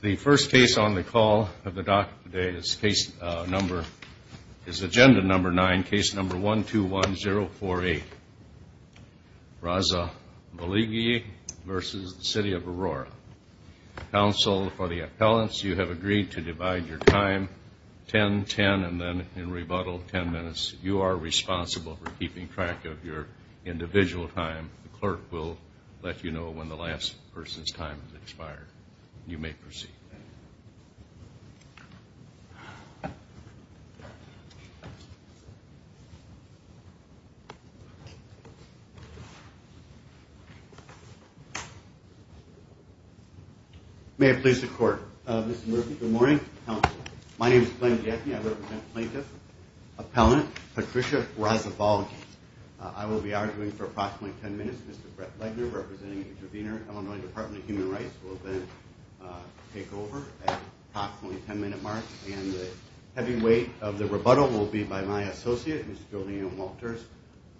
The first case on the call of the doc today is case number, is agenda number 9, case number 121048. Razavolgyi v. City of Aurora. Counsel for the appellants, you have agreed to divide your time 10-10 and then in rebuttal 10 minutes. You are responsible for keeping track of your individual time. The clerk will let you know when the last person's time has expired. You may proceed. May it please the court. Mr. Murphy, good morning. My name is Glenn Jaffe. I represent plaintiff, appellant Patricia Razavolgyi. I will be arguing for approximately 10 minutes. Mr. Brett Legner, representing the intervener, Illinois Department of Human Rights, will then take over at approximately 10 minute mark. And the heavy weight of the rebuttal will be by my associate, Mr. Julian Walters,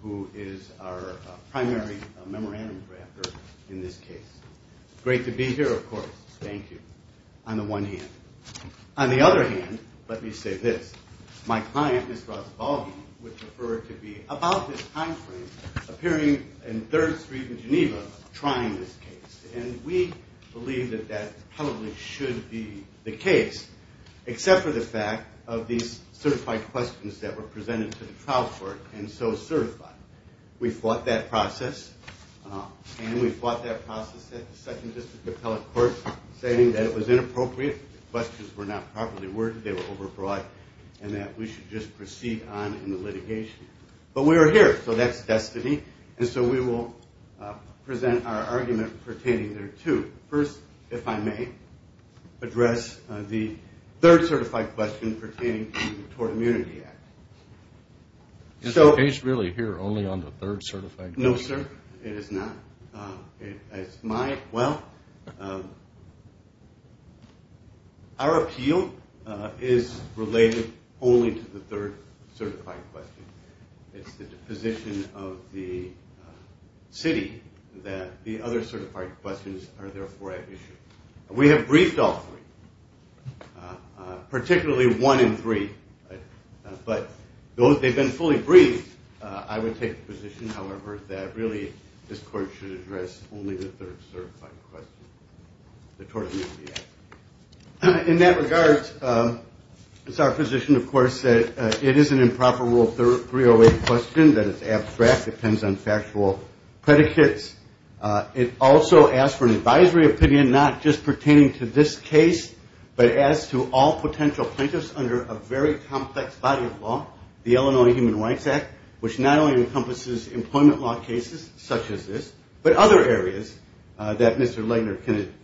who is our primary memorandum drafter in this case. Great to be here, of course. Thank you. On the one hand. On the other hand, let me say this. My client, Mr. Razavolgyi, would prefer to be about this time frame, appearing in 3rd Street in Geneva, trying this case. And we believe that that probably should be the case, except for the fact of these certified questions that were presented to the trial court and so certified. We fought that process, and we fought that process at the 2nd District Appellate Court, stating that it was inappropriate, the questions were not properly worded, they were overbroad, and that we should just proceed on in the litigation. But we are here, so that's destiny. And so we will present our argument pertaining thereto. First, if I may, address the third certified question pertaining to the Tort Immunity Act. Is the case really here only on the third certified question? We have briefed all three, particularly one in three, but they've been fully briefed. I would take the position, however, that really this court should address only the third certified question, the Tort Immunity Act. In that regard, it's our position, of course, that it is an improper Rule 308 question, that it's abstract, depends on factual predicates. It also asks for an advisory opinion, not just pertaining to this case, but as to all potential plaintiffs under a very complex body of law, the Illinois Human Rights Act, which not only encompasses employment law cases such as this, but other areas that Mr. Legner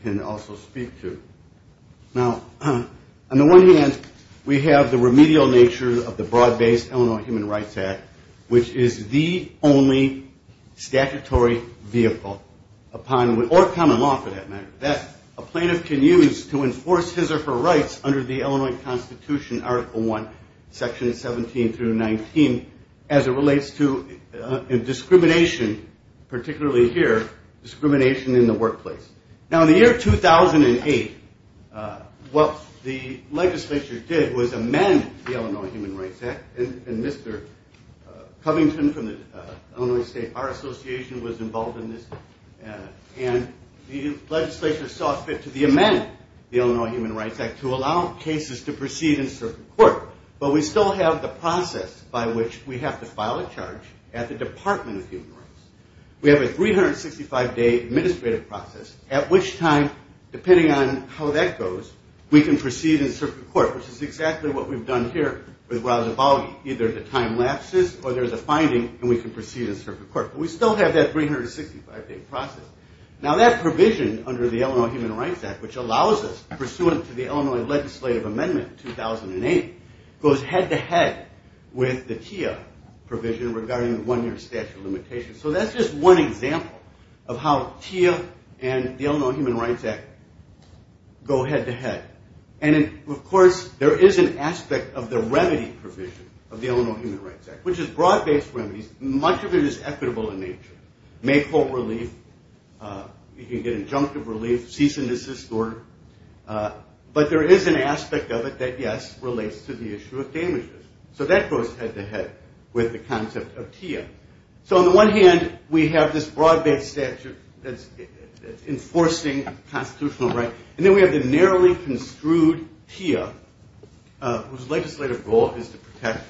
can also speak to. Now, on the one hand, we have the remedial nature of the broad-based Illinois Human Rights Act, which is the only statutory vehicle upon, or common law for that matter, that a plaintiff can use to enforce his or her rights under the Illinois Constitution, Article I, Sections 17 through 19, as it relates to discrimination, particularly here, discrimination in the workplace. Now, in the year 2008, what the legislature did was amend the Illinois Human Rights Act, and Mr. Covington from the Illinois State Bar Association was involved in this, and the legislature saw fit to amend the Illinois Human Rights Act to allow cases to proceed in a certain court. But we still have the process by which we have to file a charge at the Department of Human Rights. We have a 365-day administrative process, at which time, depending on how that goes, we can proceed in a certain court, which is exactly what we've done here with Raul Zabaldi. Either the time lapses, or there's a finding, and we can proceed in a certain court. But we still have that 365-day process. Now, that provision under the Illinois Human Rights Act, which allows us, pursuant to the Illinois Legislative Amendment 2008, goes head-to-head with the TIA provision regarding the one-year statute of limitations. So that's just one example of how TIA and the Illinois Human Rights Act go head-to-head. And, of course, there is an aspect of the remedy provision of the Illinois Human Rights Act, which is broad-based remedies. Much of it is equitable in nature. You can get injunctive relief, cease and desist order. But there is an aspect of it that, yes, relates to the issue of damages. So that goes head-to-head with the concept of TIA. So on the one hand, we have this broad-based statute that's enforcing constitutional rights. And then we have the narrowly construed TIA, whose legislative goal is to protect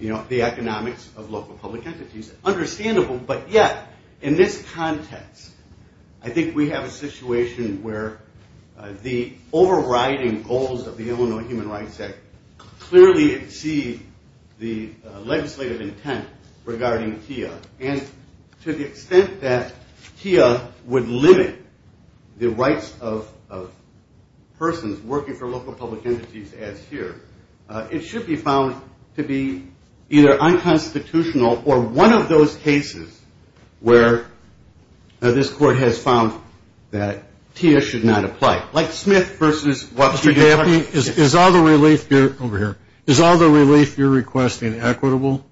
the economics of local public entities. It's understandable, but yet, in this context, I think we have a situation where the overriding goals of the Illinois Human Rights Act clearly exceed the legislative intent regarding TIA. And to the extent that TIA would limit the rights of persons working for local public entities, as here, it should be found to be either unconstitutional or one of those cases where this court has found that TIA should not apply. Like Smith v. Watford. Is all the relief you're requesting equitable?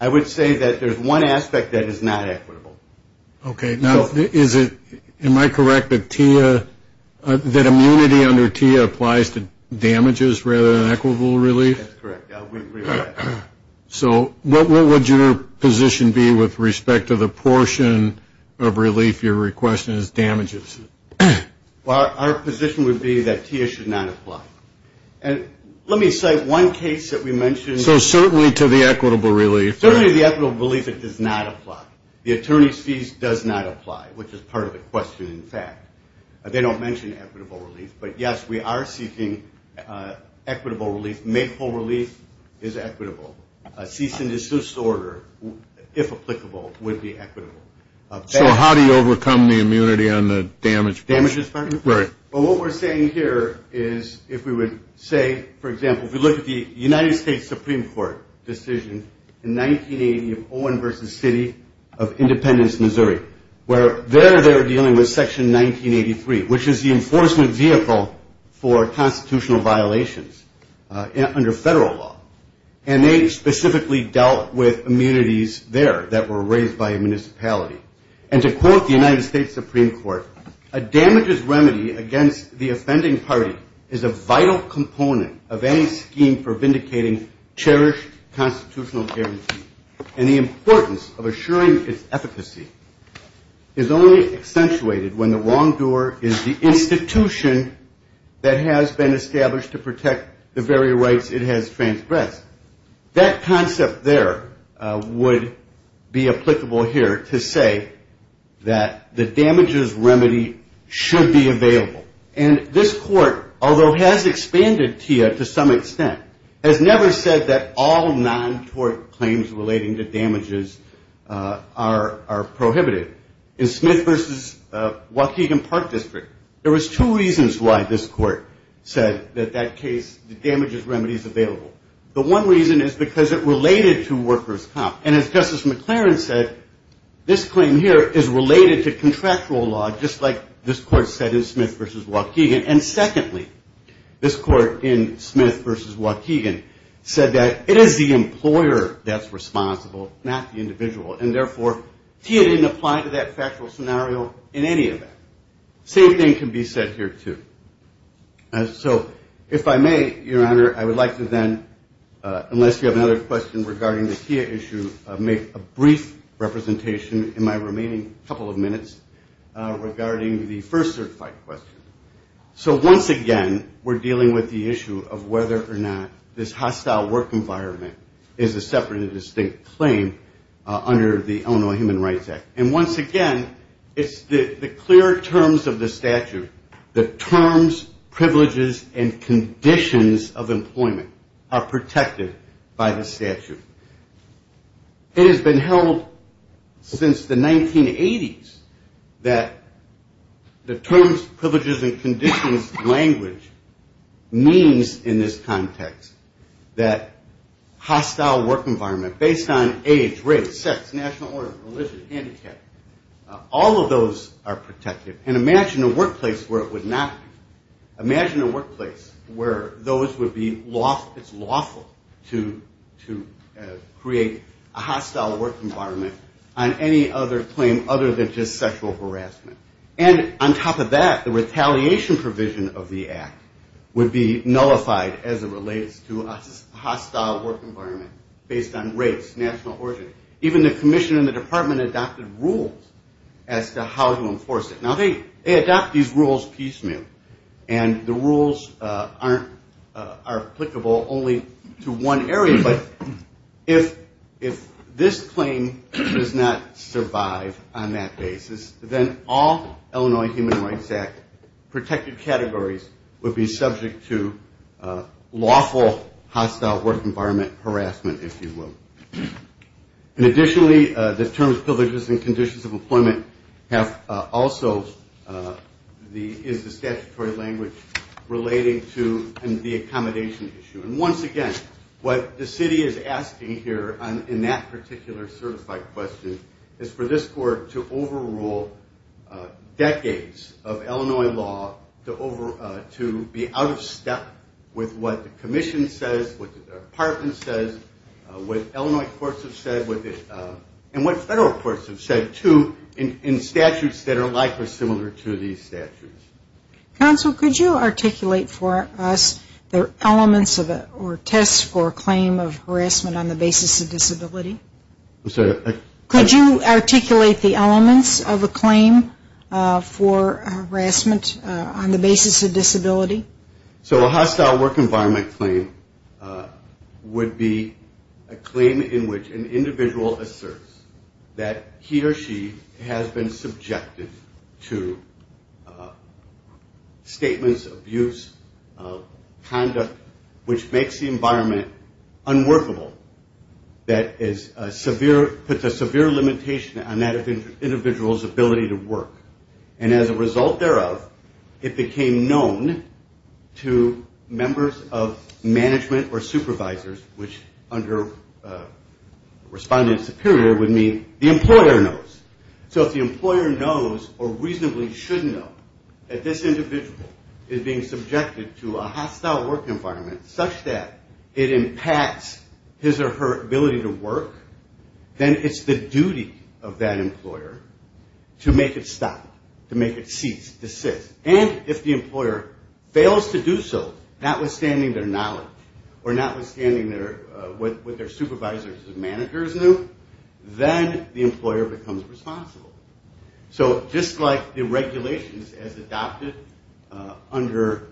I would say that there's one aspect that is not equitable. Okay. Am I correct that immunity under TIA applies to damages rather than equitable relief? That's correct. So what would your position be with respect to the portion of relief you're requesting as damages? Our position would be that TIA should not apply. And let me cite one case that we mentioned. So certainly to the equitable relief. Certainly to the equitable relief, it does not apply. The attorney's fees does not apply, which is part of the question, in fact. They don't mention equitable relief. But, yes, we are seeking equitable relief. Makeful relief is equitable. Cease and desist order, if applicable, would be equitable. So how do you overcome the immunity on the damages part? Damages part? Right. Well, what we're saying here is if we would say, for example, if we look at the United States Supreme Court decision in 1980 of Owen v. City of Independence, Missouri, where there they were dealing with Section 1983, which is the enforcement vehicle for constitutional violations under federal law. And they specifically dealt with immunities there that were raised by a municipality. And to quote the United States Supreme Court, a damages remedy against the offending party is a vital component of any scheme for vindicating cherished constitutional guarantee. And the importance of assuring its efficacy is only accentuated when the wrongdoer is the institution that has been established to protect the very rights it has transgressed. That concept there would be applicable here to say that the damages remedy should be available. And this court, although has expanded TIA to some extent, has never said that all non-tort claims relating to damages are prohibited. In Smith v. Waukegan Park District, there was two reasons why this court said that that case, the damages remedy is available. The one reason is because it related to workers' comp. And as Justice McLaren said, this claim here is related to contractual law, just like this court said in Smith v. Waukegan. And secondly, this court in Smith v. Waukegan said that it is the employer that's responsible, not the individual. And therefore, TIA didn't apply to that factual scenario in any event. Same thing can be said here, too. So if I may, Your Honor, I would like to then, unless you have another question regarding the TIA issue, make a brief representation in my remaining couple of minutes regarding the first certified question. So once again, we're dealing with the issue of whether or not this hostile work environment is a separate and distinct claim under the Illinois Human Rights Act. And once again, it's the clear terms of the statute, the terms, privileges, and conditions of employment are protected by the statute. It has been held since the 1980s that the terms, privileges, and conditions language means in this context that hostile work environment based on age, race, sex, national order, religion, handicap, all of those are protected. And imagine a workplace where it would not be. Imagine a workplace where those would be lawful to create a hostile work environment on any other claim other than just sexual harassment. And on top of that, the retaliation provision of the act would be nullified as it relates to a hostile work environment based on race, national origin. Even the commissioner in the department adopted rules as to how to enforce it. Now they adopt these rules piecemeal, and the rules are applicable only to one area, but if this claim does not survive on that basis, then all Illinois Human Rights Act protected categories would be subject to lawful hostile work environment harassment, if you will. And additionally, the terms, privileges, and conditions of employment have also the statutory language relating to the accommodation issue. And once again, what the city is asking here in that particular certified question is for this court to overrule decades of Illinois law to be out of step with what the commission says, what the department says, what Illinois courts have said, and what federal courts have said, too, in statutes that are likely similar to these statutes. Counsel, could you articulate for us the elements or tests for a claim of harassment on the basis of disability? I'm sorry. Could you articulate the elements of a claim for harassment on the basis of disability? So a hostile work environment claim would be a claim in which an individual asserts that he or she has been subjected to statements, abuse, conduct, which makes the environment unworkable, that puts a severe limitation on that individual's ability to work. And as a result thereof, it became known to members of management or supervisors, which under respondent superior would mean the employer knows. So if the employer knows or reasonably should know that this individual is being subjected to a hostile work environment such that it impacts his or her ability to work, then it's the duty of that employer to make it stop, to make it cease, desist. And if the employer fails to do so, notwithstanding their knowledge or notwithstanding what their supervisors and managers knew, then the employer becomes responsible. So just like the regulations as adopted under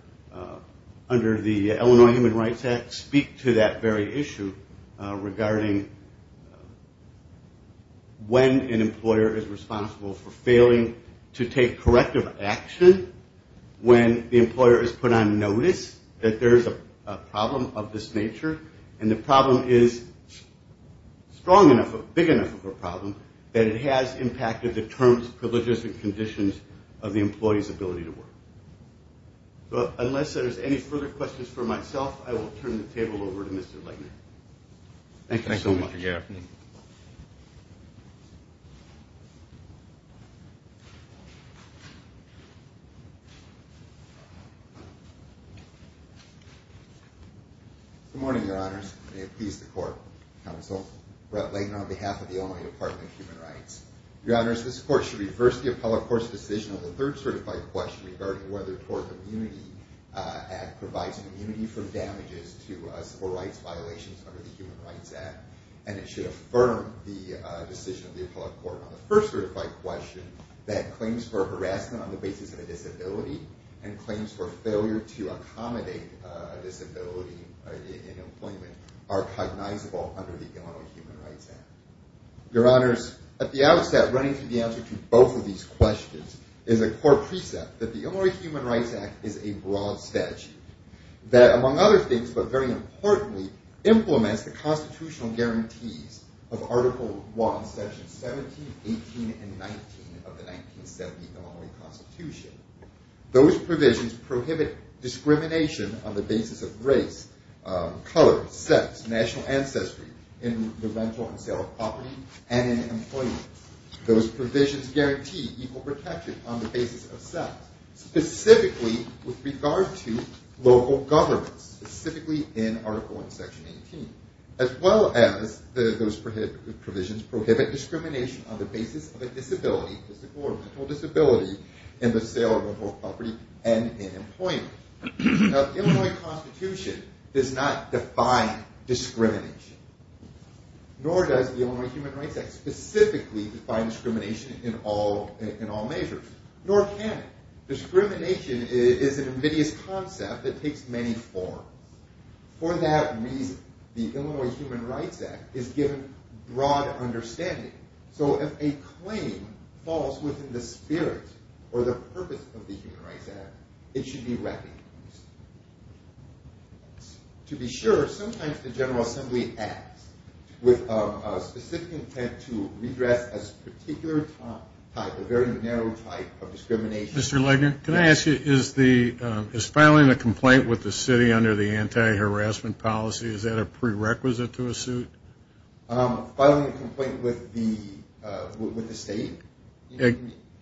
the Illinois Human Rights Act speak to that very issue regarding when an employer is responsible for failing to take corrective action when the employer has put on notice that there is a problem of this nature and the problem is strong enough, big enough of a problem, that it has impacted the terms, privileges, and conditions of the employee's ability to work. But unless there's any further questions for myself, I will turn the table over to Mr. Leighton. Thank you so much. Good morning, your honors. May it please the court, counsel. Brett Leighton on behalf of the Illinois Department of Human Rights. Your honors, this court should reverse the appellate court's decision on the third certified question regarding whether provides immunity for damages to civil rights violations under the Human Rights Act. And it should affirm the decision of the appellate court on the first certified question that claims for harassment on the basis of a disability and claims for failure to accommodate a disability in employment are cognizable under the Illinois Human Rights Act. Your honors, at the outset, running through the answer to both of these questions is a core precept that the Illinois Human Rights Act is a broad statute that, among other things, but very importantly, implements the constitutional guarantees of Article I, Sections 17, 18, and 19 of the 1970 Illinois Constitution. Those provisions prohibit discrimination on the basis of race, color, sex, national ancestry, in the rental and sale of property, and in employment. Those provisions guarantee equal protection on the basis of sex, specifically with regard to local governments, specifically in Article I, Section 18, as well as those provisions prohibit discrimination on the basis of a disability, physical or mental disability, in the sale of rental property, and in employment. The Illinois Constitution does not define discrimination. Nor does the Illinois Human Rights Act specifically define discrimination in all measures. Nor can it. Discrimination is an invidious concept that takes many forms. For that reason, the Illinois Human Rights Act is given broad understanding. So if a claim falls within the spirit or the purpose of the Human Rights Act, it should be recognized. To be sure, sometimes the General Assembly acts with a specific intent to redress a particular type, a very narrow type of discrimination. Mr. Legner, can I ask you, is filing a complaint with the city under the anti-harassment policy, is that a prerequisite to a suit? Filing a complaint with the state?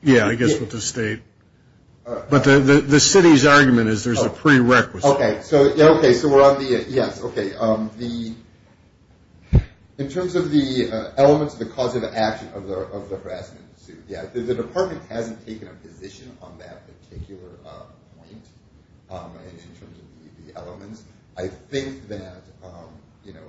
Yeah, I guess with the state. But the city's argument is there's a prerequisite. Okay, so we're on the, yes, okay. The, in terms of the elements of the cause of action of the harassment suit, yeah, the department hasn't taken a position on that particular point, in terms of the elements. I think that, you know,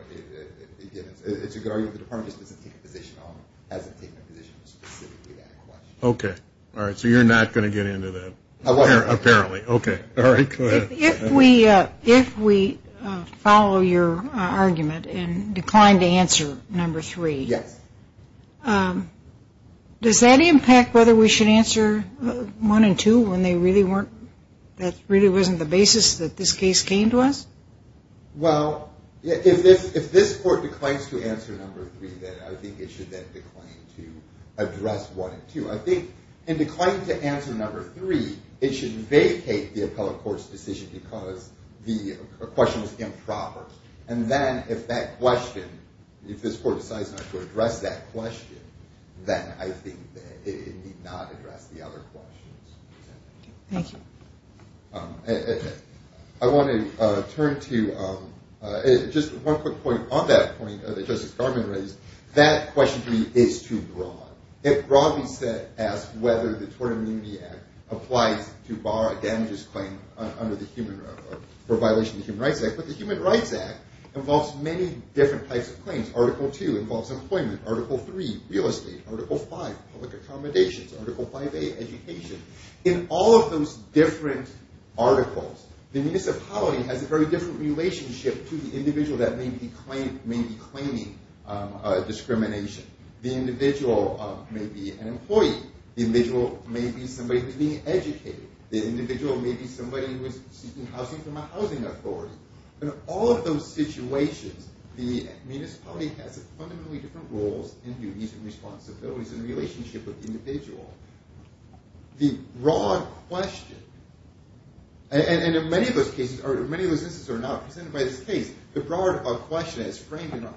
again, it's a good argument. The department just doesn't take a position on it, hasn't taken a position specifically on that question. Okay. All right, so you're not going to get into that. Apparently. Okay. All right, go ahead. If we follow your argument and decline to answer number three, does that impact whether we should answer one and two when they really weren't, that really wasn't the basis that this case came to us? Well, if this court declines to answer number three, then I think it should then decline to address one and two. I think in declining to answer number three, it should vacate the appellate court's decision because the question was improper. And then if that question, if this court decides not to address that question, then I think it need not address the other questions. Thank you. I want to turn to just one quick point on that point that Justice Garland raised. That question to me is too broad. It broadly asks whether the Tort Immunity Act applies to bar a damages claim under the Human Rights Act, but the Human Rights Act involves many different types of claims. Article two involves employment. Article three, real estate. Article five, public accommodations. Article 5A, education. In all of those different articles, the municipality has a very different relationship to the individual that may be claiming discrimination. The individual may be an employee. The individual may be somebody who's being educated. The individual may be somebody who is seeking housing from a housing authority. In all of those situations, the municipality has fundamentally different roles and duties and responsibilities in the relationship with the individual. The broad question, and in many of those instances that are not presented by this case, the broad question as framed in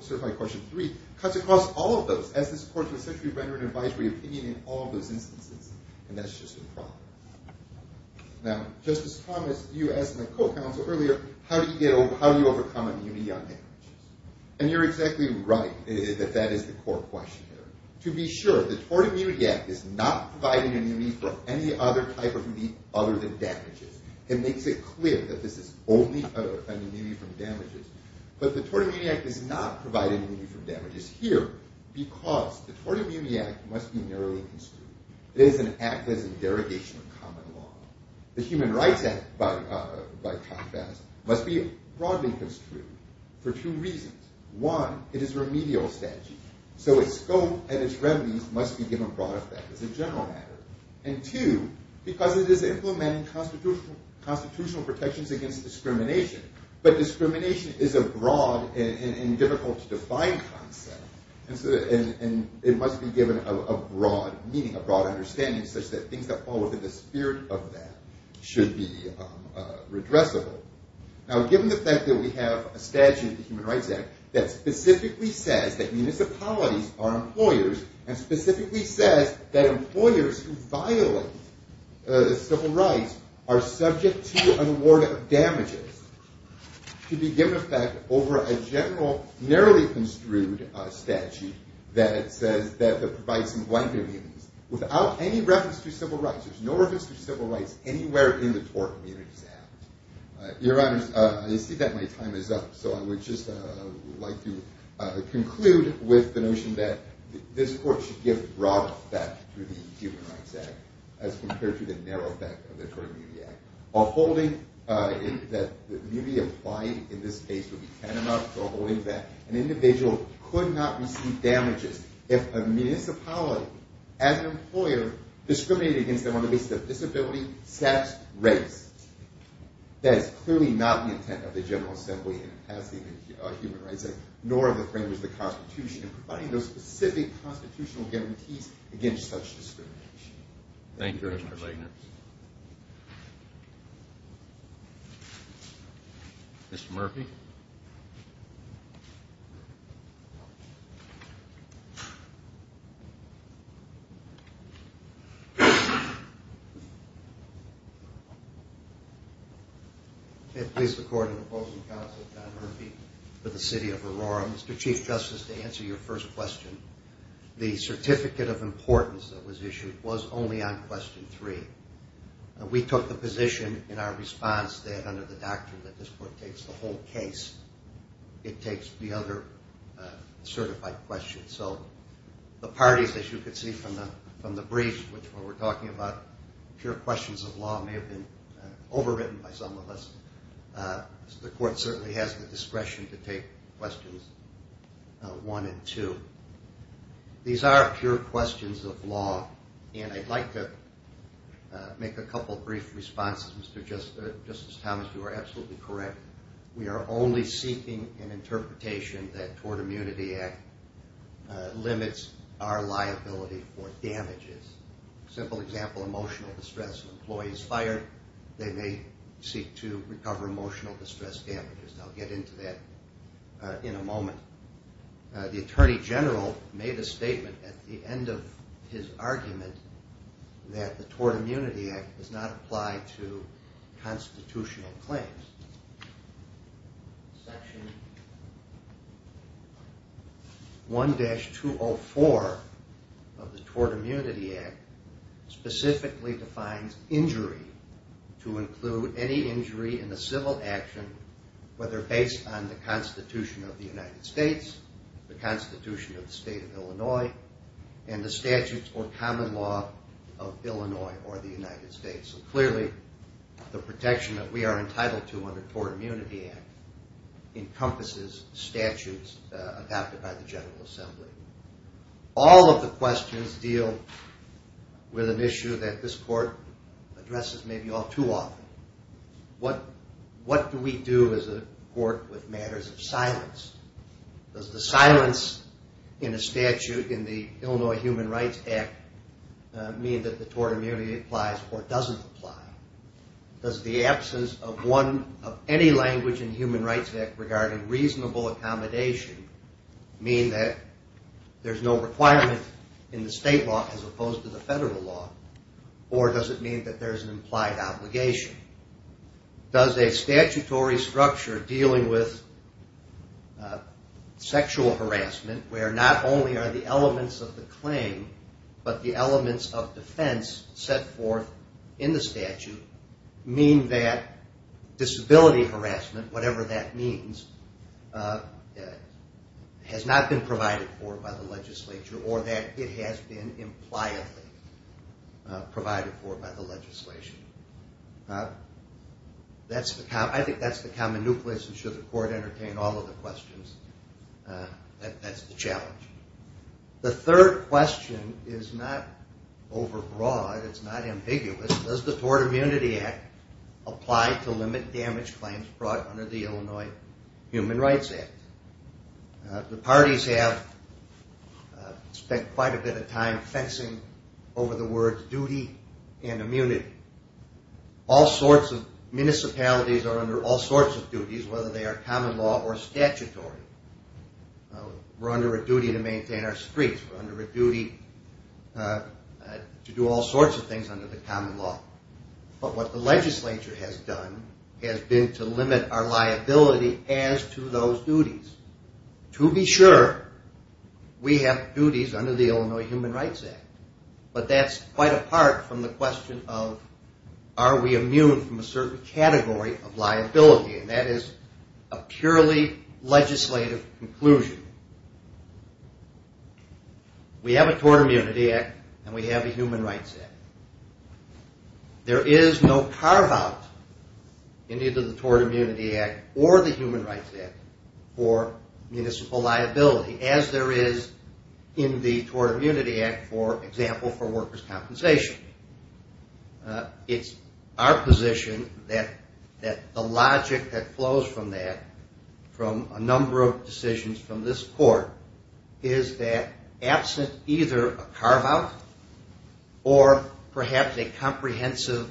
certified question three cuts across all of those, is does this court essentially render an advisory opinion in all of those instances? And that's just a problem. Now, Justice Thomas, you asked my co-counsel earlier, how do you overcome immunity on damages? And you're exactly right that that is the core question here. To be sure, the Tort Immunity Act is not providing immunity for any other type of immunity other than damages. It makes it clear that this is only an immunity from damages. But the Tort Immunity Act does not provide any immunity from damages here because the Tort Immunity Act must be narrowly construed. It is an act that is a derogation of common law. The Human Rights Act, by contrast, must be broadly construed for two reasons. One, it is a remedial strategy, so its scope and its remedies must be given broad effect as a general matter. And two, because it is implementing constitutional protections against discrimination, but discrimination is a broad and difficult to define concept, and it must be given a broad meaning, a broad understanding, such that things that fall within the spirit of that should be redressable. Now, given the fact that we have a statute in the Human Rights Act that specifically says that municipalities are employers and specifically says that employers who violate civil rights are subject to an award of damages to be given effect over a general, narrowly construed statute that provides some blanket immunities without any reference to civil rights. There is no reference to civil rights anywhere in the Tort Immunity Act. Your Honors, I see that my time is up, so I would just like to conclude with the notion that this Court should give broad effect to the Human Rights Act as compared to the narrow effect of the Tort Immunity Act. While holding that immunity applied in this case would be tantamount to holding that an individual could not receive damages if a municipality, as an employer, discriminated against them on the basis of disability, status, race. That is clearly not the intent of the General Assembly in passing the Human Rights Act, nor of the framers of the Constitution in providing those specific constitutional guarantees against such discrimination. Thank you, Mr. Wagner. Mr. Murphy. May it please the Court and opposing counsel, Don Murphy for the City of Aurora. Mr. Chief Justice, to answer your first question, the Certificate of Importance that was issued was only on Question 3. We took the position in our response that under the doctrine that this Court takes the whole case, it takes the other certified questions. So the parties, as you can see from the briefs, which we're talking about, pure questions of law may have been overwritten by some of us. The Court certainly has the discretion to take questions 1 and 2. These are pure questions of law, and I'd like to make a couple of brief responses. Justice Thomas, you are absolutely correct. We are only seeking an interpretation that the Tort Immunity Act limits our liability for damages. A simple example, emotional distress of employees fired, they may seek to recover emotional distress damages. I'll get into that in a moment. The Attorney General made a statement at the end of his argument that the Tort Immunity Act does not apply to constitutional claims. Section 1-204 of the Tort Immunity Act specifically defines injury to include any injury in a civil action, whether based on the Constitution of the United States, the Constitution of the State of Illinois, and the statutes or common law of Illinois or the United States. Clearly, the protection that we are entitled to under the Tort Immunity Act encompasses statutes adopted by the General Assembly. All of the questions deal with an issue that this Court addresses maybe all too often. What do we do as a Court with matters of silence? Does the silence in a statute in the Illinois Human Rights Act mean that the Tort Immunity Act applies or doesn't apply? Does the absence of any language in the Human Rights Act regarding reasonable accommodation mean that there's no requirement in the state law as opposed to the federal law, or does it mean that there's an implied obligation? Does a statutory structure dealing with sexual harassment, where not only are the elements of the claim, but the elements of defense set forth in the statute, mean that disability harassment, whatever that means, has not been provided for by the legislature or that it has been impliedly provided for by the legislation? I think that's the common nucleus, and should the Court entertain all of the questions, that's the challenge. The third question is not overbroad, it's not ambiguous. Does the Tort Immunity Act apply to limit damage claims brought under the Illinois Human Rights Act? The parties have spent quite a bit of time fencing over the words duty and immunity. All sorts of municipalities are under all sorts of duties, whether they are common law or statutory. We're under a duty to maintain our streets, we're under a duty to do all sorts of things under the common law. But what the legislature has done has been to limit our liability as to those duties. To be sure, we have duties under the Illinois Human Rights Act. But that's quite apart from the question of are we immune from a certain category of liability, and that is a purely legislative conclusion. We have a Tort Immunity Act, and we have a Human Rights Act. There is no carve-out in either the Tort Immunity Act or the Human Rights Act for municipal liability, as there is in the Tort Immunity Act, for example, for workers' compensation. It's our position that the logic that flows from that, from a number of decisions from this court, is that absent either a carve-out or perhaps a comprehensive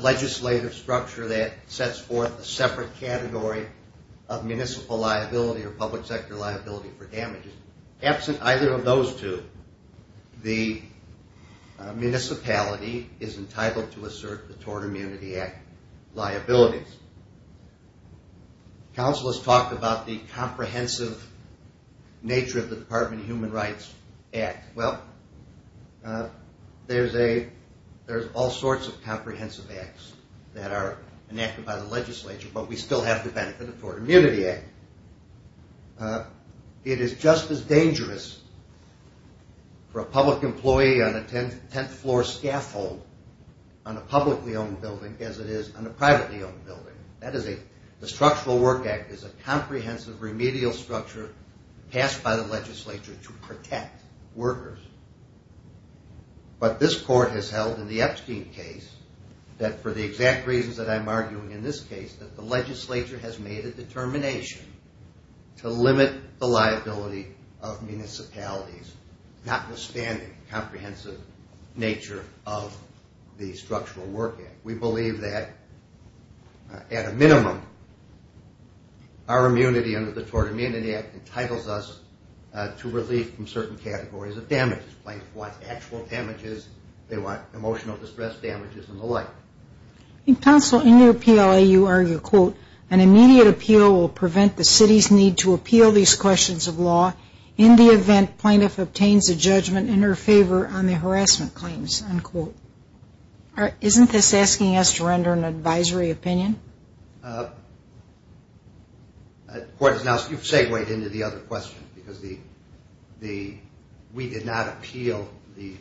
legislative structure that sets forth a separate category of municipal liability or public sector liability for damages, absent either of those two, the municipality is entitled to assert the Tort Immunity Act liabilities. Counsel has talked about the comprehensive nature of the Department of Human Rights Act. Well, there's all sorts of comprehensive acts that are enacted by the legislature, but we still have the benefit of the Tort Immunity Act. It is just as dangerous for a public employee on a 10th floor scaffold on a publicly owned building as it is on a privately owned building. The Structural Work Act is a comprehensive remedial structure passed by the legislature to protect workers, but this court has held in the Epstein case that for the exact reasons that I'm arguing in this case, that the legislature has made a determination to limit the liability of municipalities, notwithstanding the comprehensive nature of the Structural Work Act. We believe that, at a minimum, our immunity under the Tort Immunity Act entitles us to relief from certain categories of damages. Plaintiffs want actual damages. They want emotional distress damages and the like. Counsel, in your appeal, you argue, quote, an immediate appeal will prevent the city's need to appeal these questions of law in the event plaintiff obtains a judgment in her favor on the harassment claims, unquote. Isn't this asking us to render an advisory opinion? The court has now segued into the other question, because we did not appeal the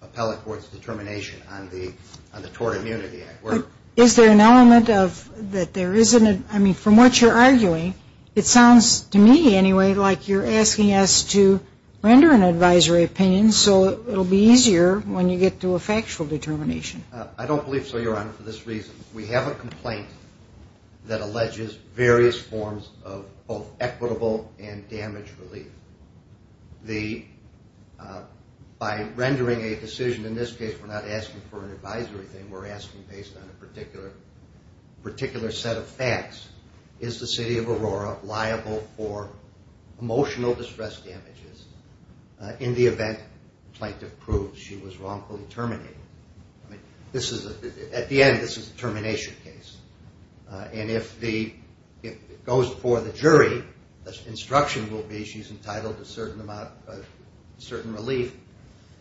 appellate court's determination on the Tort Immunity Act. Is there an element of that there isn't a, I mean, from what you're arguing, it sounds to me anyway like you're asking us to render an advisory opinion so it will be easier when you get to a factual determination. I don't believe so, Your Honor, for this reason. We have a complaint that alleges various forms of both equitable and damage relief. By rendering a decision, in this case we're not asking for an advisory thing, we're asking based on a particular set of facts. Is the city of Aurora liable for emotional distress damages in the event the plaintiff proves she was wrongfully terminated? At the end, this is a termination case, and if it goes before the jury, the instruction will be she's entitled to certain relief,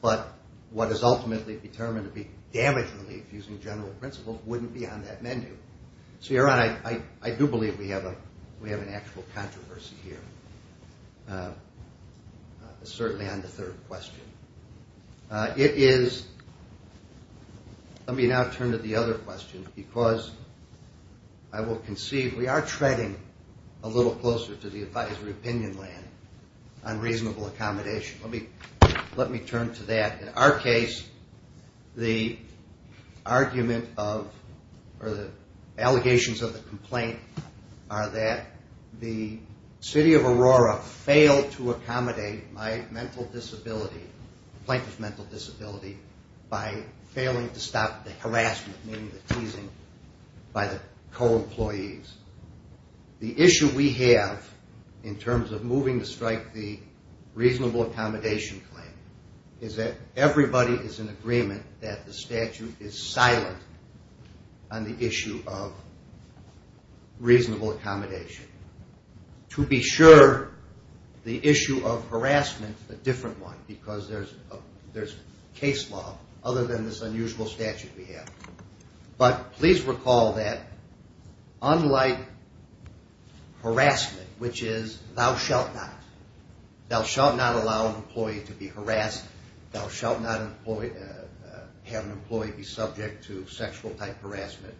but what is ultimately determined to be damage relief, using general principles, wouldn't be on that menu. So, Your Honor, I do believe we have an actual controversy here, certainly on the third question. It is, let me now turn to the other question, because I will concede we are treading a little closer to the advisory opinion land on reasonable accommodation. Let me turn to that. In our case, the argument of, or the allegations of the complaint are that the city of Aurora failed to accommodate my mental disability, the plaintiff's mental disability, by failing to stop the harassment, meaning the teasing, by the co-employees. The issue we have, in terms of moving to strike the reasonable accommodation claim, is that everybody is in agreement that the statute is silent on the issue of reasonable accommodation. To be sure, the issue of harassment is a different one, because there's case law other than this unusual statute we have. But please recall that, unlike harassment, which is, thou shalt not, thou shalt not allow an employee to be harassed, thou shalt not have an employee be subject to sexual type harassment.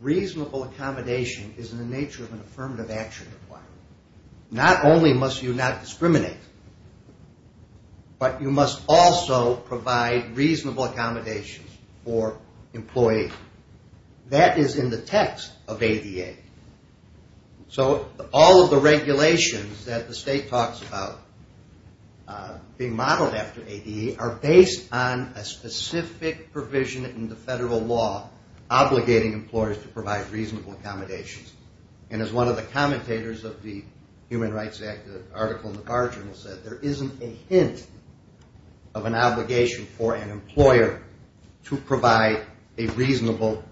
Reasonable accommodation is in the nature of an affirmative action requirement. Not only must you not discriminate, but you must also provide reasonable accommodation for employees. That is in the text of ADA. So all of the regulations that the state talks about being modeled after ADA are based on a specific provision in the federal law obligating employers to provide reasonable accommodations. And as one of the commentators of the Human Rights Act, the article in the cardinal said, there isn't a hint of an obligation for an employer to provide a reasonable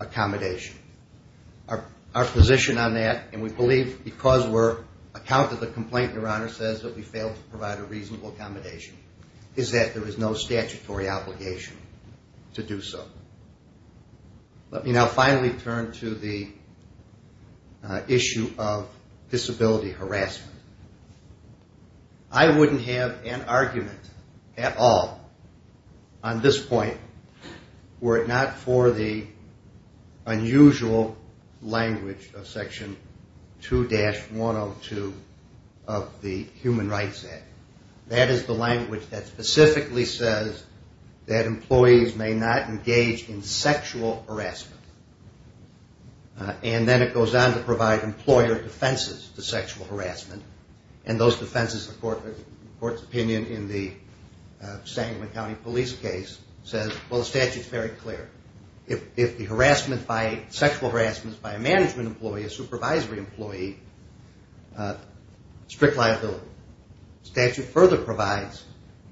accommodation. Our position on that, and we believe because we're the complaint your honor says that we failed to provide a reasonable accommodation, is that there is no statutory obligation to do so. Let me now finally turn to the issue of disability harassment. I wouldn't have an argument at all on this point were it not for the unusual language of Section 2-102 of the Human Rights Act. That is the language that specifically says that employees may not engage in sexual harassment. And then it goes on to provide employer defenses to sexual harassment. And those defenses, the court's opinion in the Sangamon County Police case says, well the statute is very clear. If the sexual harassment is by a management employee, a supervisory employee, strict liability. The statute further provides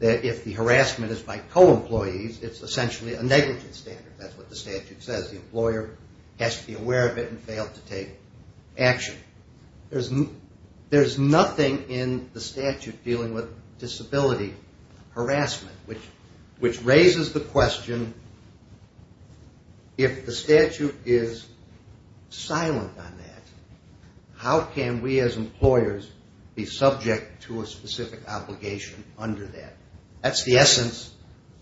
that if the harassment is by co-employees, it's essentially a negligence standard. That's what the statute says. The employer has to be aware of it and fail to take action. There's nothing in the statute dealing with disability harassment, which raises the question, if the statute is silent on that, how can we as employers be subject to a specific obligation under that? That's the essence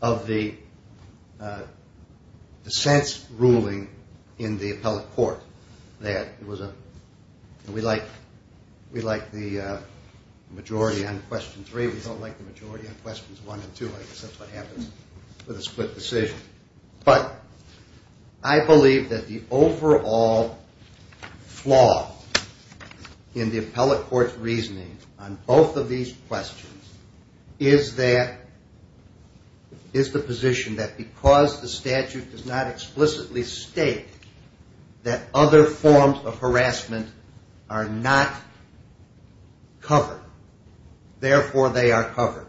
of the dissents ruling in the appellate court. We like the majority on question three. We don't like the majority on questions one and two. I guess that's what happens with a split decision. But I believe that the overall flaw in the appellate court's reasoning on both of these questions is the position that because the statute does not explicitly state that other forms of harassment are not covered, therefore they are covered.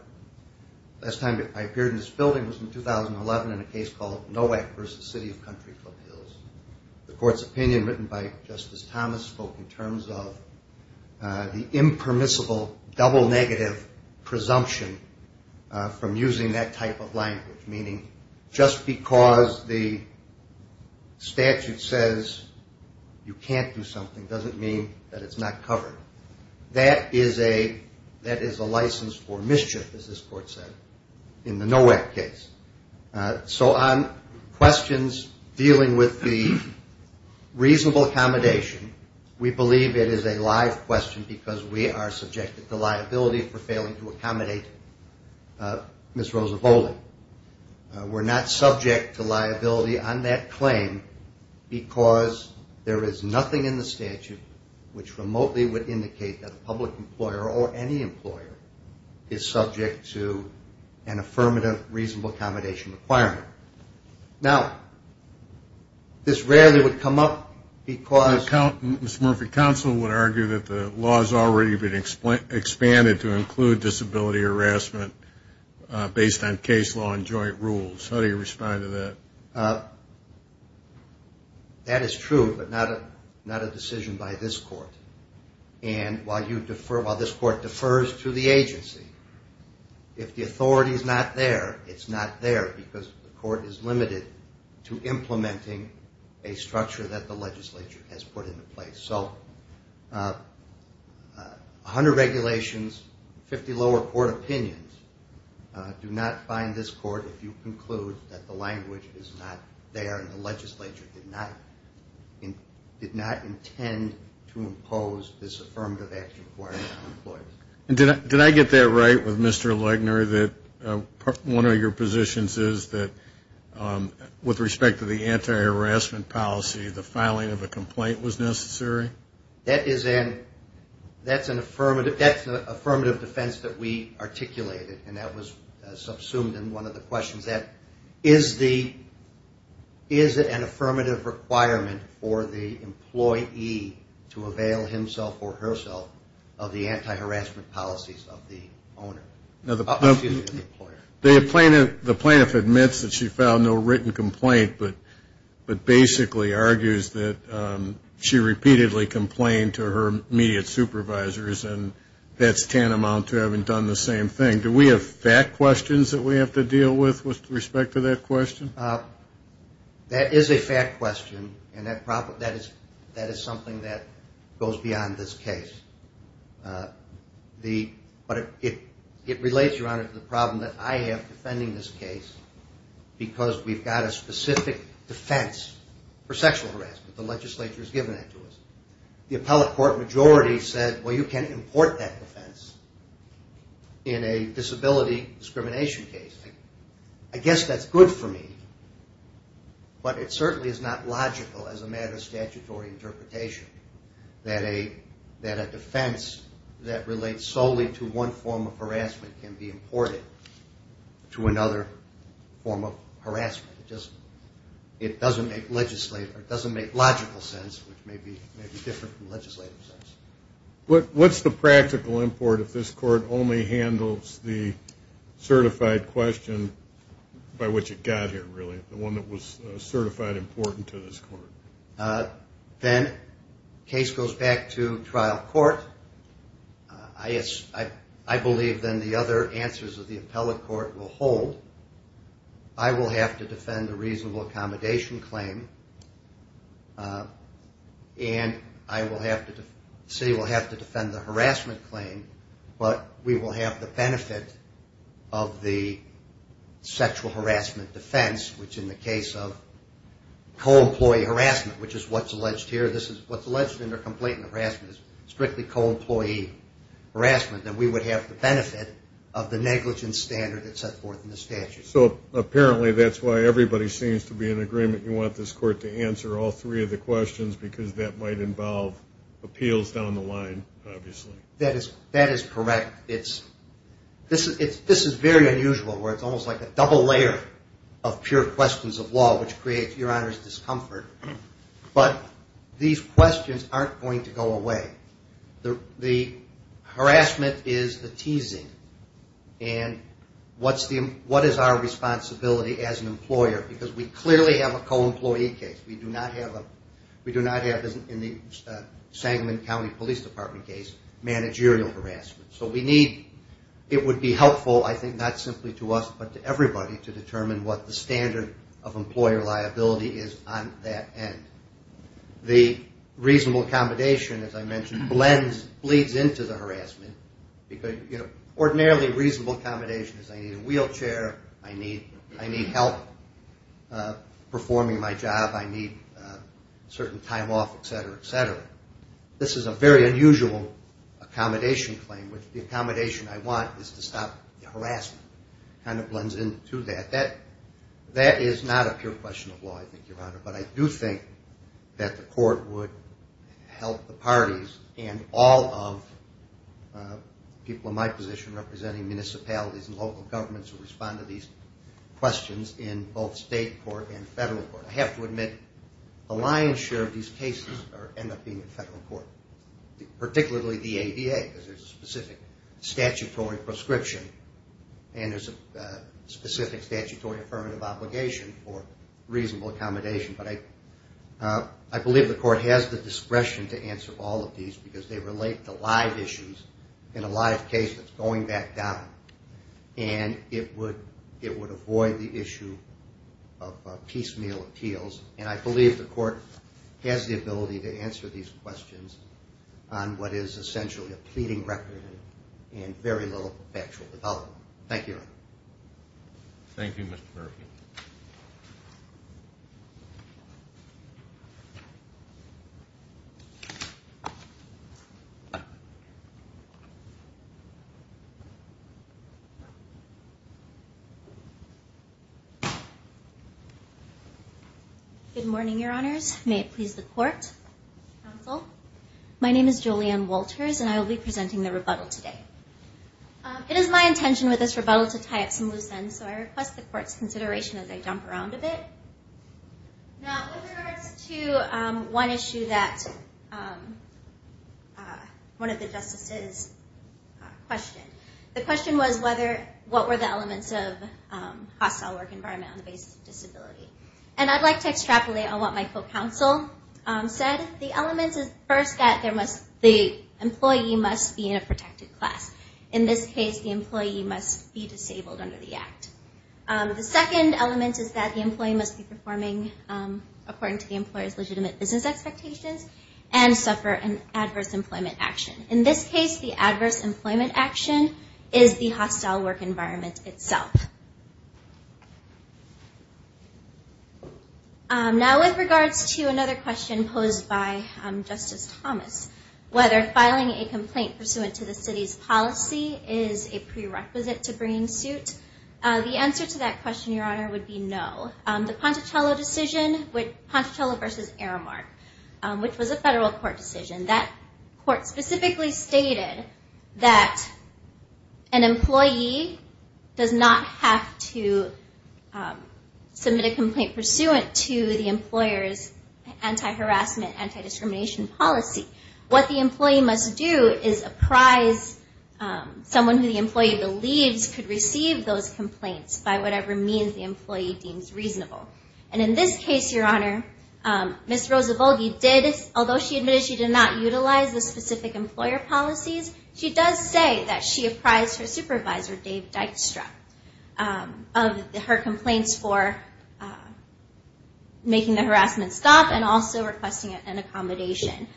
The last time I appeared in this building was in 2011 in a case called Nowak v. City of Country Club Hills. The court's opinion written by Justice Thomas spoke in terms of the impermissible double negative presumption from using that type of language, meaning just because the statute says you can't do something doesn't mean that it's not covered. That is a license for mischief, as this court said, in the Nowak case. So on questions dealing with the reasonable accommodation, we believe it is a live question because we are subjected to liability for failing to accommodate Ms. Rosa Bowling. We're not subject to liability on that claim because there is nothing in the statute which remotely would indicate that a public employer or any employer is subject to an affirmative reasonable accommodation requirement. Now, this rarely would come up because Mr. Murphy, counsel would argue that the law has already been expanded to include disability harassment based on case law and joint rules. How do you respond to that? That is true, but not a decision by this court. And while this court defers to the agency, if the authority is not there, it's not there because the court is limited to implementing a structure that the legislature has put into place. So 100 regulations, 50 lower court opinions do not find this court, if you conclude that the language is not there and the legislature did not intend to impose this affirmative action requirement on employers. Did I get that right with Mr. Legner, that one of your positions is that with respect to the anti-harassment policy, the filing of a complaint was necessary? That's an affirmative defense that we articulated, and that was subsumed in one of the questions. Is it an affirmative requirement for the employee to avail himself or herself of the anti-harassment policies of the employer? The plaintiff admits that she filed no written complaint, but basically argues that she repeatedly complained to her immediate supervisors, and that's tantamount to having done the same thing. Do we have fact questions that we have to deal with with respect to that question? That is a fact question, and that is something that goes beyond this case. But it relates, Your Honor, to the problem that I have defending this case because we've got a specific defense for sexual harassment. The legislature has given that to us. The appellate court majority said, well, you can't import that defense in a disability discrimination case. I guess that's good for me, but it certainly is not logical as a matter of statutory interpretation that a defense that relates solely to one form of harassment can be imported to another form of harassment. It doesn't make logical sense, which may be different from legislative sense. What's the practical import if this court only handles the certified question by which it got here, really, the one that was certified important to this court? Then the case goes back to trial court. I believe then the other answers of the appellate court will hold. I will have to defend a reasonable accommodation claim, and the city will have to defend the harassment claim, but we will have the benefit of the sexual harassment defense, which in the case of co-employee harassment, which is what's alleged here. What's alleged in the complaint of harassment is strictly co-employee harassment, and we would have the benefit of the negligence standard that's set forth in the statute. So apparently that's why everybody seems to be in agreement you want this court to answer all three of the questions because that might involve appeals down the line, obviously. That is correct. This is very unusual where it's almost like a double layer of pure questions of law, which creates Your Honor's discomfort, but these questions aren't going to go away. The harassment is the teasing, and what is our responsibility as an employer? Because we clearly have a co-employee case. We do not have, in the Sangamon County Police Department case, managerial harassment. So it would be helpful, I think, not simply to us, but to everybody, to determine what the standard of employer liability is on that end. The reasonable accommodation, as I mentioned, bleeds into the harassment because ordinarily reasonable accommodation is I need a wheelchair, I need help performing my job, I need a certain time off, et cetera, et cetera. This is a very unusual accommodation claim, which the accommodation I want is to stop the harassment. It kind of blends into that. That is not a pure question of law, I think, Your Honor, but I do think that the court would help the parties and all of the people in my position representing municipalities and local governments who respond to these questions in both state court and federal court. I have to admit, a lion's share of these cases end up being in federal court, particularly the ADA, because there is a specific statutory prescription and there is a specific statutory affirmative obligation for reasonable accommodation. But I believe the court has the discretion to answer all of these because they relate to live issues in a live case that is going back down, and it would avoid the issue of piecemeal appeals. And I believe the court has the ability to answer these questions on what is essentially a pleading record and very little factual development. Thank you, Your Honor. Good morning, Your Honors. My name is Julianne Walters, and I will be presenting the rebuttal today. It is my intention with this rebuttal to tie up some loose ends, so I request the court's consideration as I jump around a bit. Now, with regards to one issue that one of the justices questioned, the question was what were the elements of a hostile work environment on the basis of disability. And I'd like to extrapolate on what my co-counsel said. The elements is first that the employee must be in a protected class. In this case, the employee must be disabled under the Act. The second element is that the employee must be performing according to the employer's legitimate business expectations and suffer an adverse employment action. In this case, the adverse employment action is the hostile work environment itself. Now, with regards to another question posed by Justice Thomas, whether filing a complaint pursuant to the city's policy is a prerequisite to bringing suit, the answer to that question, Your Honor, would be no. The Pontecello decision, Pontecello v. Aramark, which was a federal court decision, that court specifically stated that an employee does not have to submit a complaint pursuant to the employer's anti-harassment, anti-discrimination policy. What the employee must do is apprise someone who the employee believes could receive those complaints by whatever means the employee deems reasonable. And in this case, Your Honor, Ms. Roza Volgi did, although she admitted she did not utilize the specific employer policies, she does say that she apprised her supervisor, Mr. Dave Dykstra, of her complaints for making the harassment stop and also requesting an accommodation.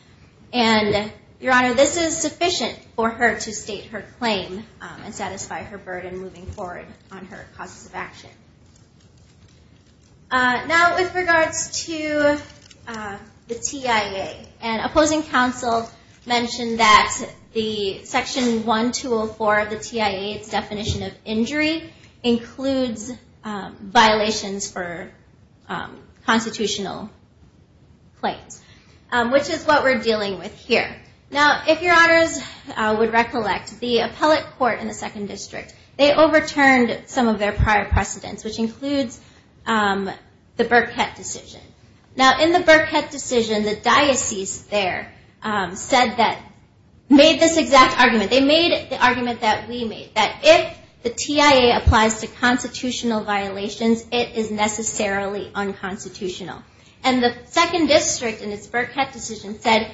And, Your Honor, this is sufficient for her to state her claim and satisfy her burden moving forward on her causes of action. Now, with regards to the TIA, an opposing counsel mentioned that the Section 1204 of the TIA's definition of injury includes violations for constitutional claims, which is what we're dealing with here. Now, if Your Honors would recollect, the appellate court in the 2nd District, they overturned some of their prior precedents, which includes the Burkett decision. Now, in the Burkett decision, the diocese there made this exact argument. They made the argument that we made, that if the TIA applies to constitutional violations, it is necessarily unconstitutional. And the 2nd District, in its Burkett decision, said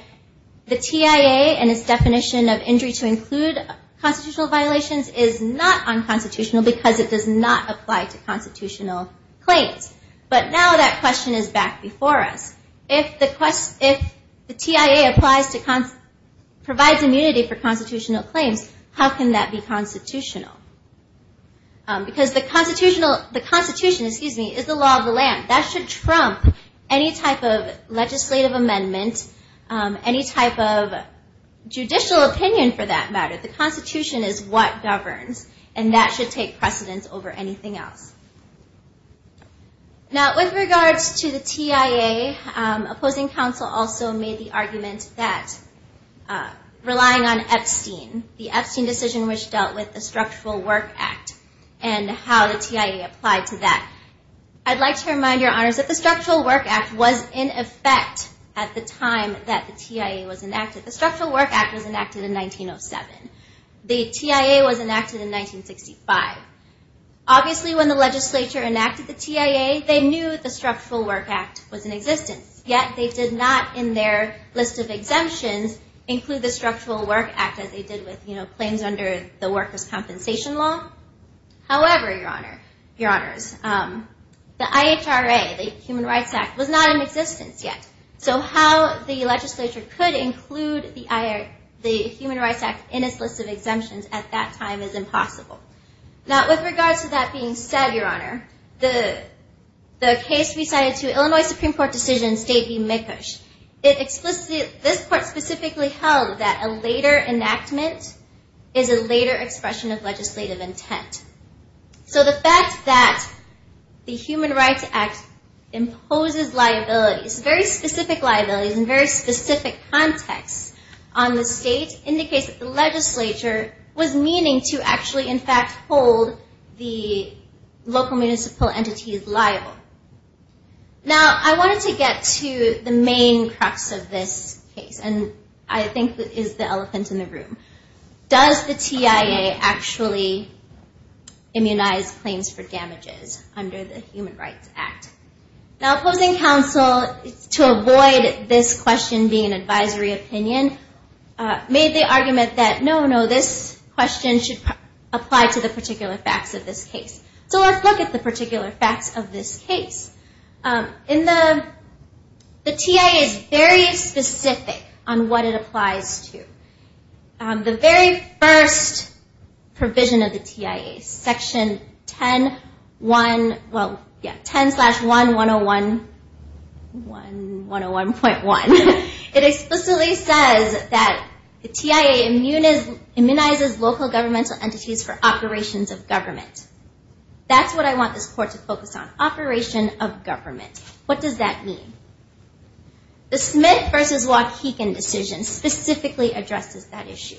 the TIA and its definition of injury to include constitutional violations is not unconstitutional because it does not apply to constitutional claims. But now that question is back before us. If the TIA applies to provides immunity for constitutional claims, how can that be constitutional? Because the Constitution is the law of the land. That should trump any type of legislative amendment, any type of legislative precedent over anything else. Now, with regards to the TIA, opposing counsel also made the argument that relying on Epstein, the Epstein decision which dealt with the Structural Work Act and how the TIA applied to that. I'd like to remind Your Honors that the Structural Work Act was in effect at the time that the TIA was enacted. The Structural Work Act was enacted in 1907. The TIA was enacted in 1965. Obviously when the legislature enacted the TIA, they knew the Structural Work Act was in existence. Yet they did not, in their list of exemptions, include the Structural Work Act as they did with claims under the Workers' Compensation Law. However, Your Honors, the IHRA, the Human Rights Act, was not in existence yet. So how the legislature could include the Human Rights Act in its list of exemptions at that time is impossible. Now, with regards to that being said, Your Honor, the case recited to Illinois Supreme Court Decision State v. Mikosh, this Court specifically held that a later enactment is a later expression of legislative intent. So the fact that the Human Rights Act imposes liabilities, very specific liabilities in very specific contexts on the state, indicates that the legislature was meaning to actually, in fact, hold the local municipal entities liable. Now, I wanted to get to the main crux of this case, and I think is the elephant in the room. Does the TIA actually immunize claims for damages under the Human Rights Act? Now, opposing counsel, to avoid this question being an advisory opinion, made the argument that, no, no, this question should apply to the particular facts of this case. So let's look at the particular facts of this case. The TIA is very specific on what it applies to. The very first provision of the TIA, Section 10-1-101.1, it explicitly says that the TIA immunizes local governmental entities for operations of government. That's what I want this court to focus on, operation of government. What does that mean? The Smith v. Waukegan decision specifically addresses that issue.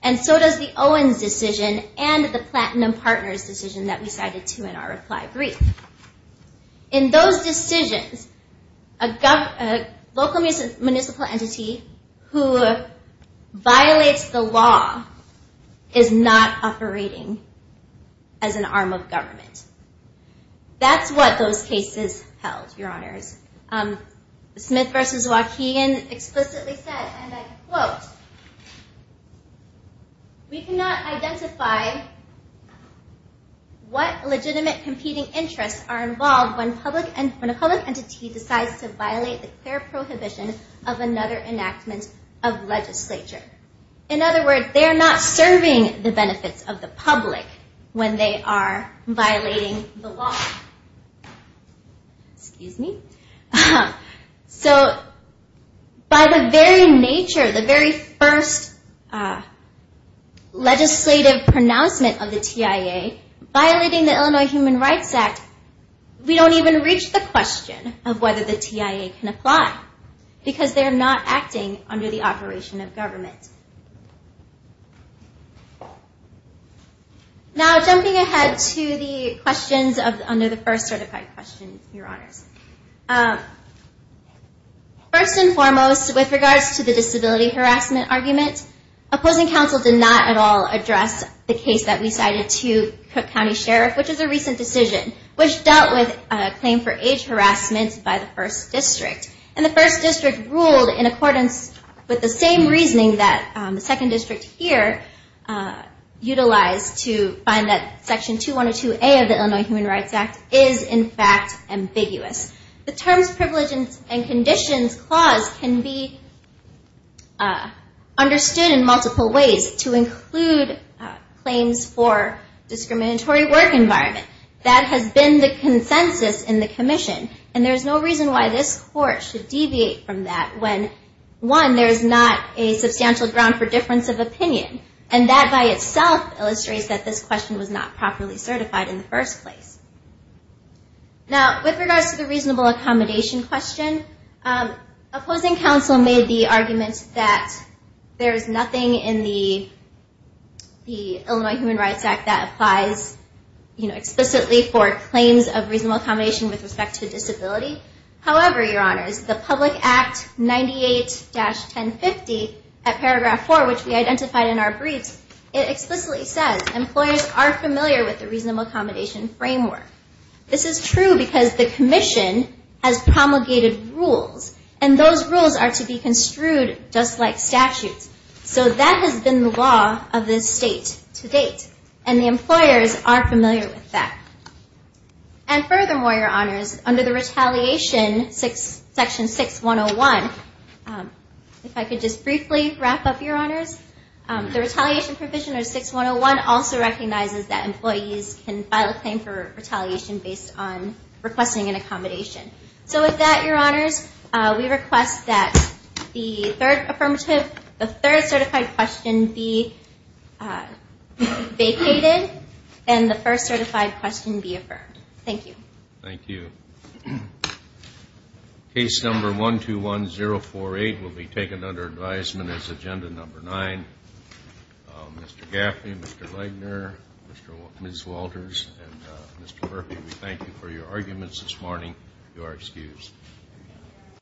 And so does the Owens decision and the Platinum Partners decision that we cited too in our reply brief. In those decisions, a local municipal entity who violates the law is not operating as an arm of government. That's what those cases held, Your Honors. Smith v. Waukegan explicitly said, and I quote, we cannot identify what legitimate competing interests are involved when a public entity decides to violate the clear prohibition of another enactment of legislature. In other words, they're not serving the benefits of the public when they are violating the law. Excuse me. So by the very nature, the very first legislative pronouncement of the TIA, violating the law does not apply because they're not acting under the operation of government. Now jumping ahead to the questions under the first certified question, Your Honors. First and foremost, with regards to the disability harassment argument, opposing counsel did not at all address the case that we cited to Cook County Sheriff, which is a recent district. And the first district ruled in accordance with the same reasoning that the second district here utilized to find that Section 2102A of the Illinois Human Rights Act is in fact ambiguous. The terms, privileges, and conditions clause can be understood in multiple ways to include claims for discriminatory work in the environment. That has been the consensus in the commission. And there's no reason why this court should deviate from that when one, there's not a substantial ground for difference of opinion. And that by itself illustrates that this question was not properly certified in the first place. Now with regards to the reasonable accommodation question, opposing counsel made the argument that there is nothing in the Illinois Human Rights Act that applies explicitly for claims of reasonable accommodation with respect to disability. However, Your Honors, the Public Act 98-1050 at paragraph 4, which we identified in our briefs, it explicitly says employers are familiar with the reasonable accommodation framework. This is true because the commission has promulgated rules. And those rules are to be construed just like statutes. So that has been the law of this state to date. And the employers are familiar with that. And furthermore, Your Honors, under the retaliation Section 6101, if I could just briefly wrap up, Your Honors, the retaliation provision of 6101 also recognizes that employees can have a reasonable accommodation with respect to disability. So Your Honors, we request that the third affirmative, the third certified question be vacated and the first certified question be affirmed. Thank you. Thank you. Case number 121048 will be taken under advisement as agenda number 9. Mr. Gaffney, Mr. Lagner, Ms. Walters, and Mr. Murphy, we thank you for your arguments this morning. You are excused.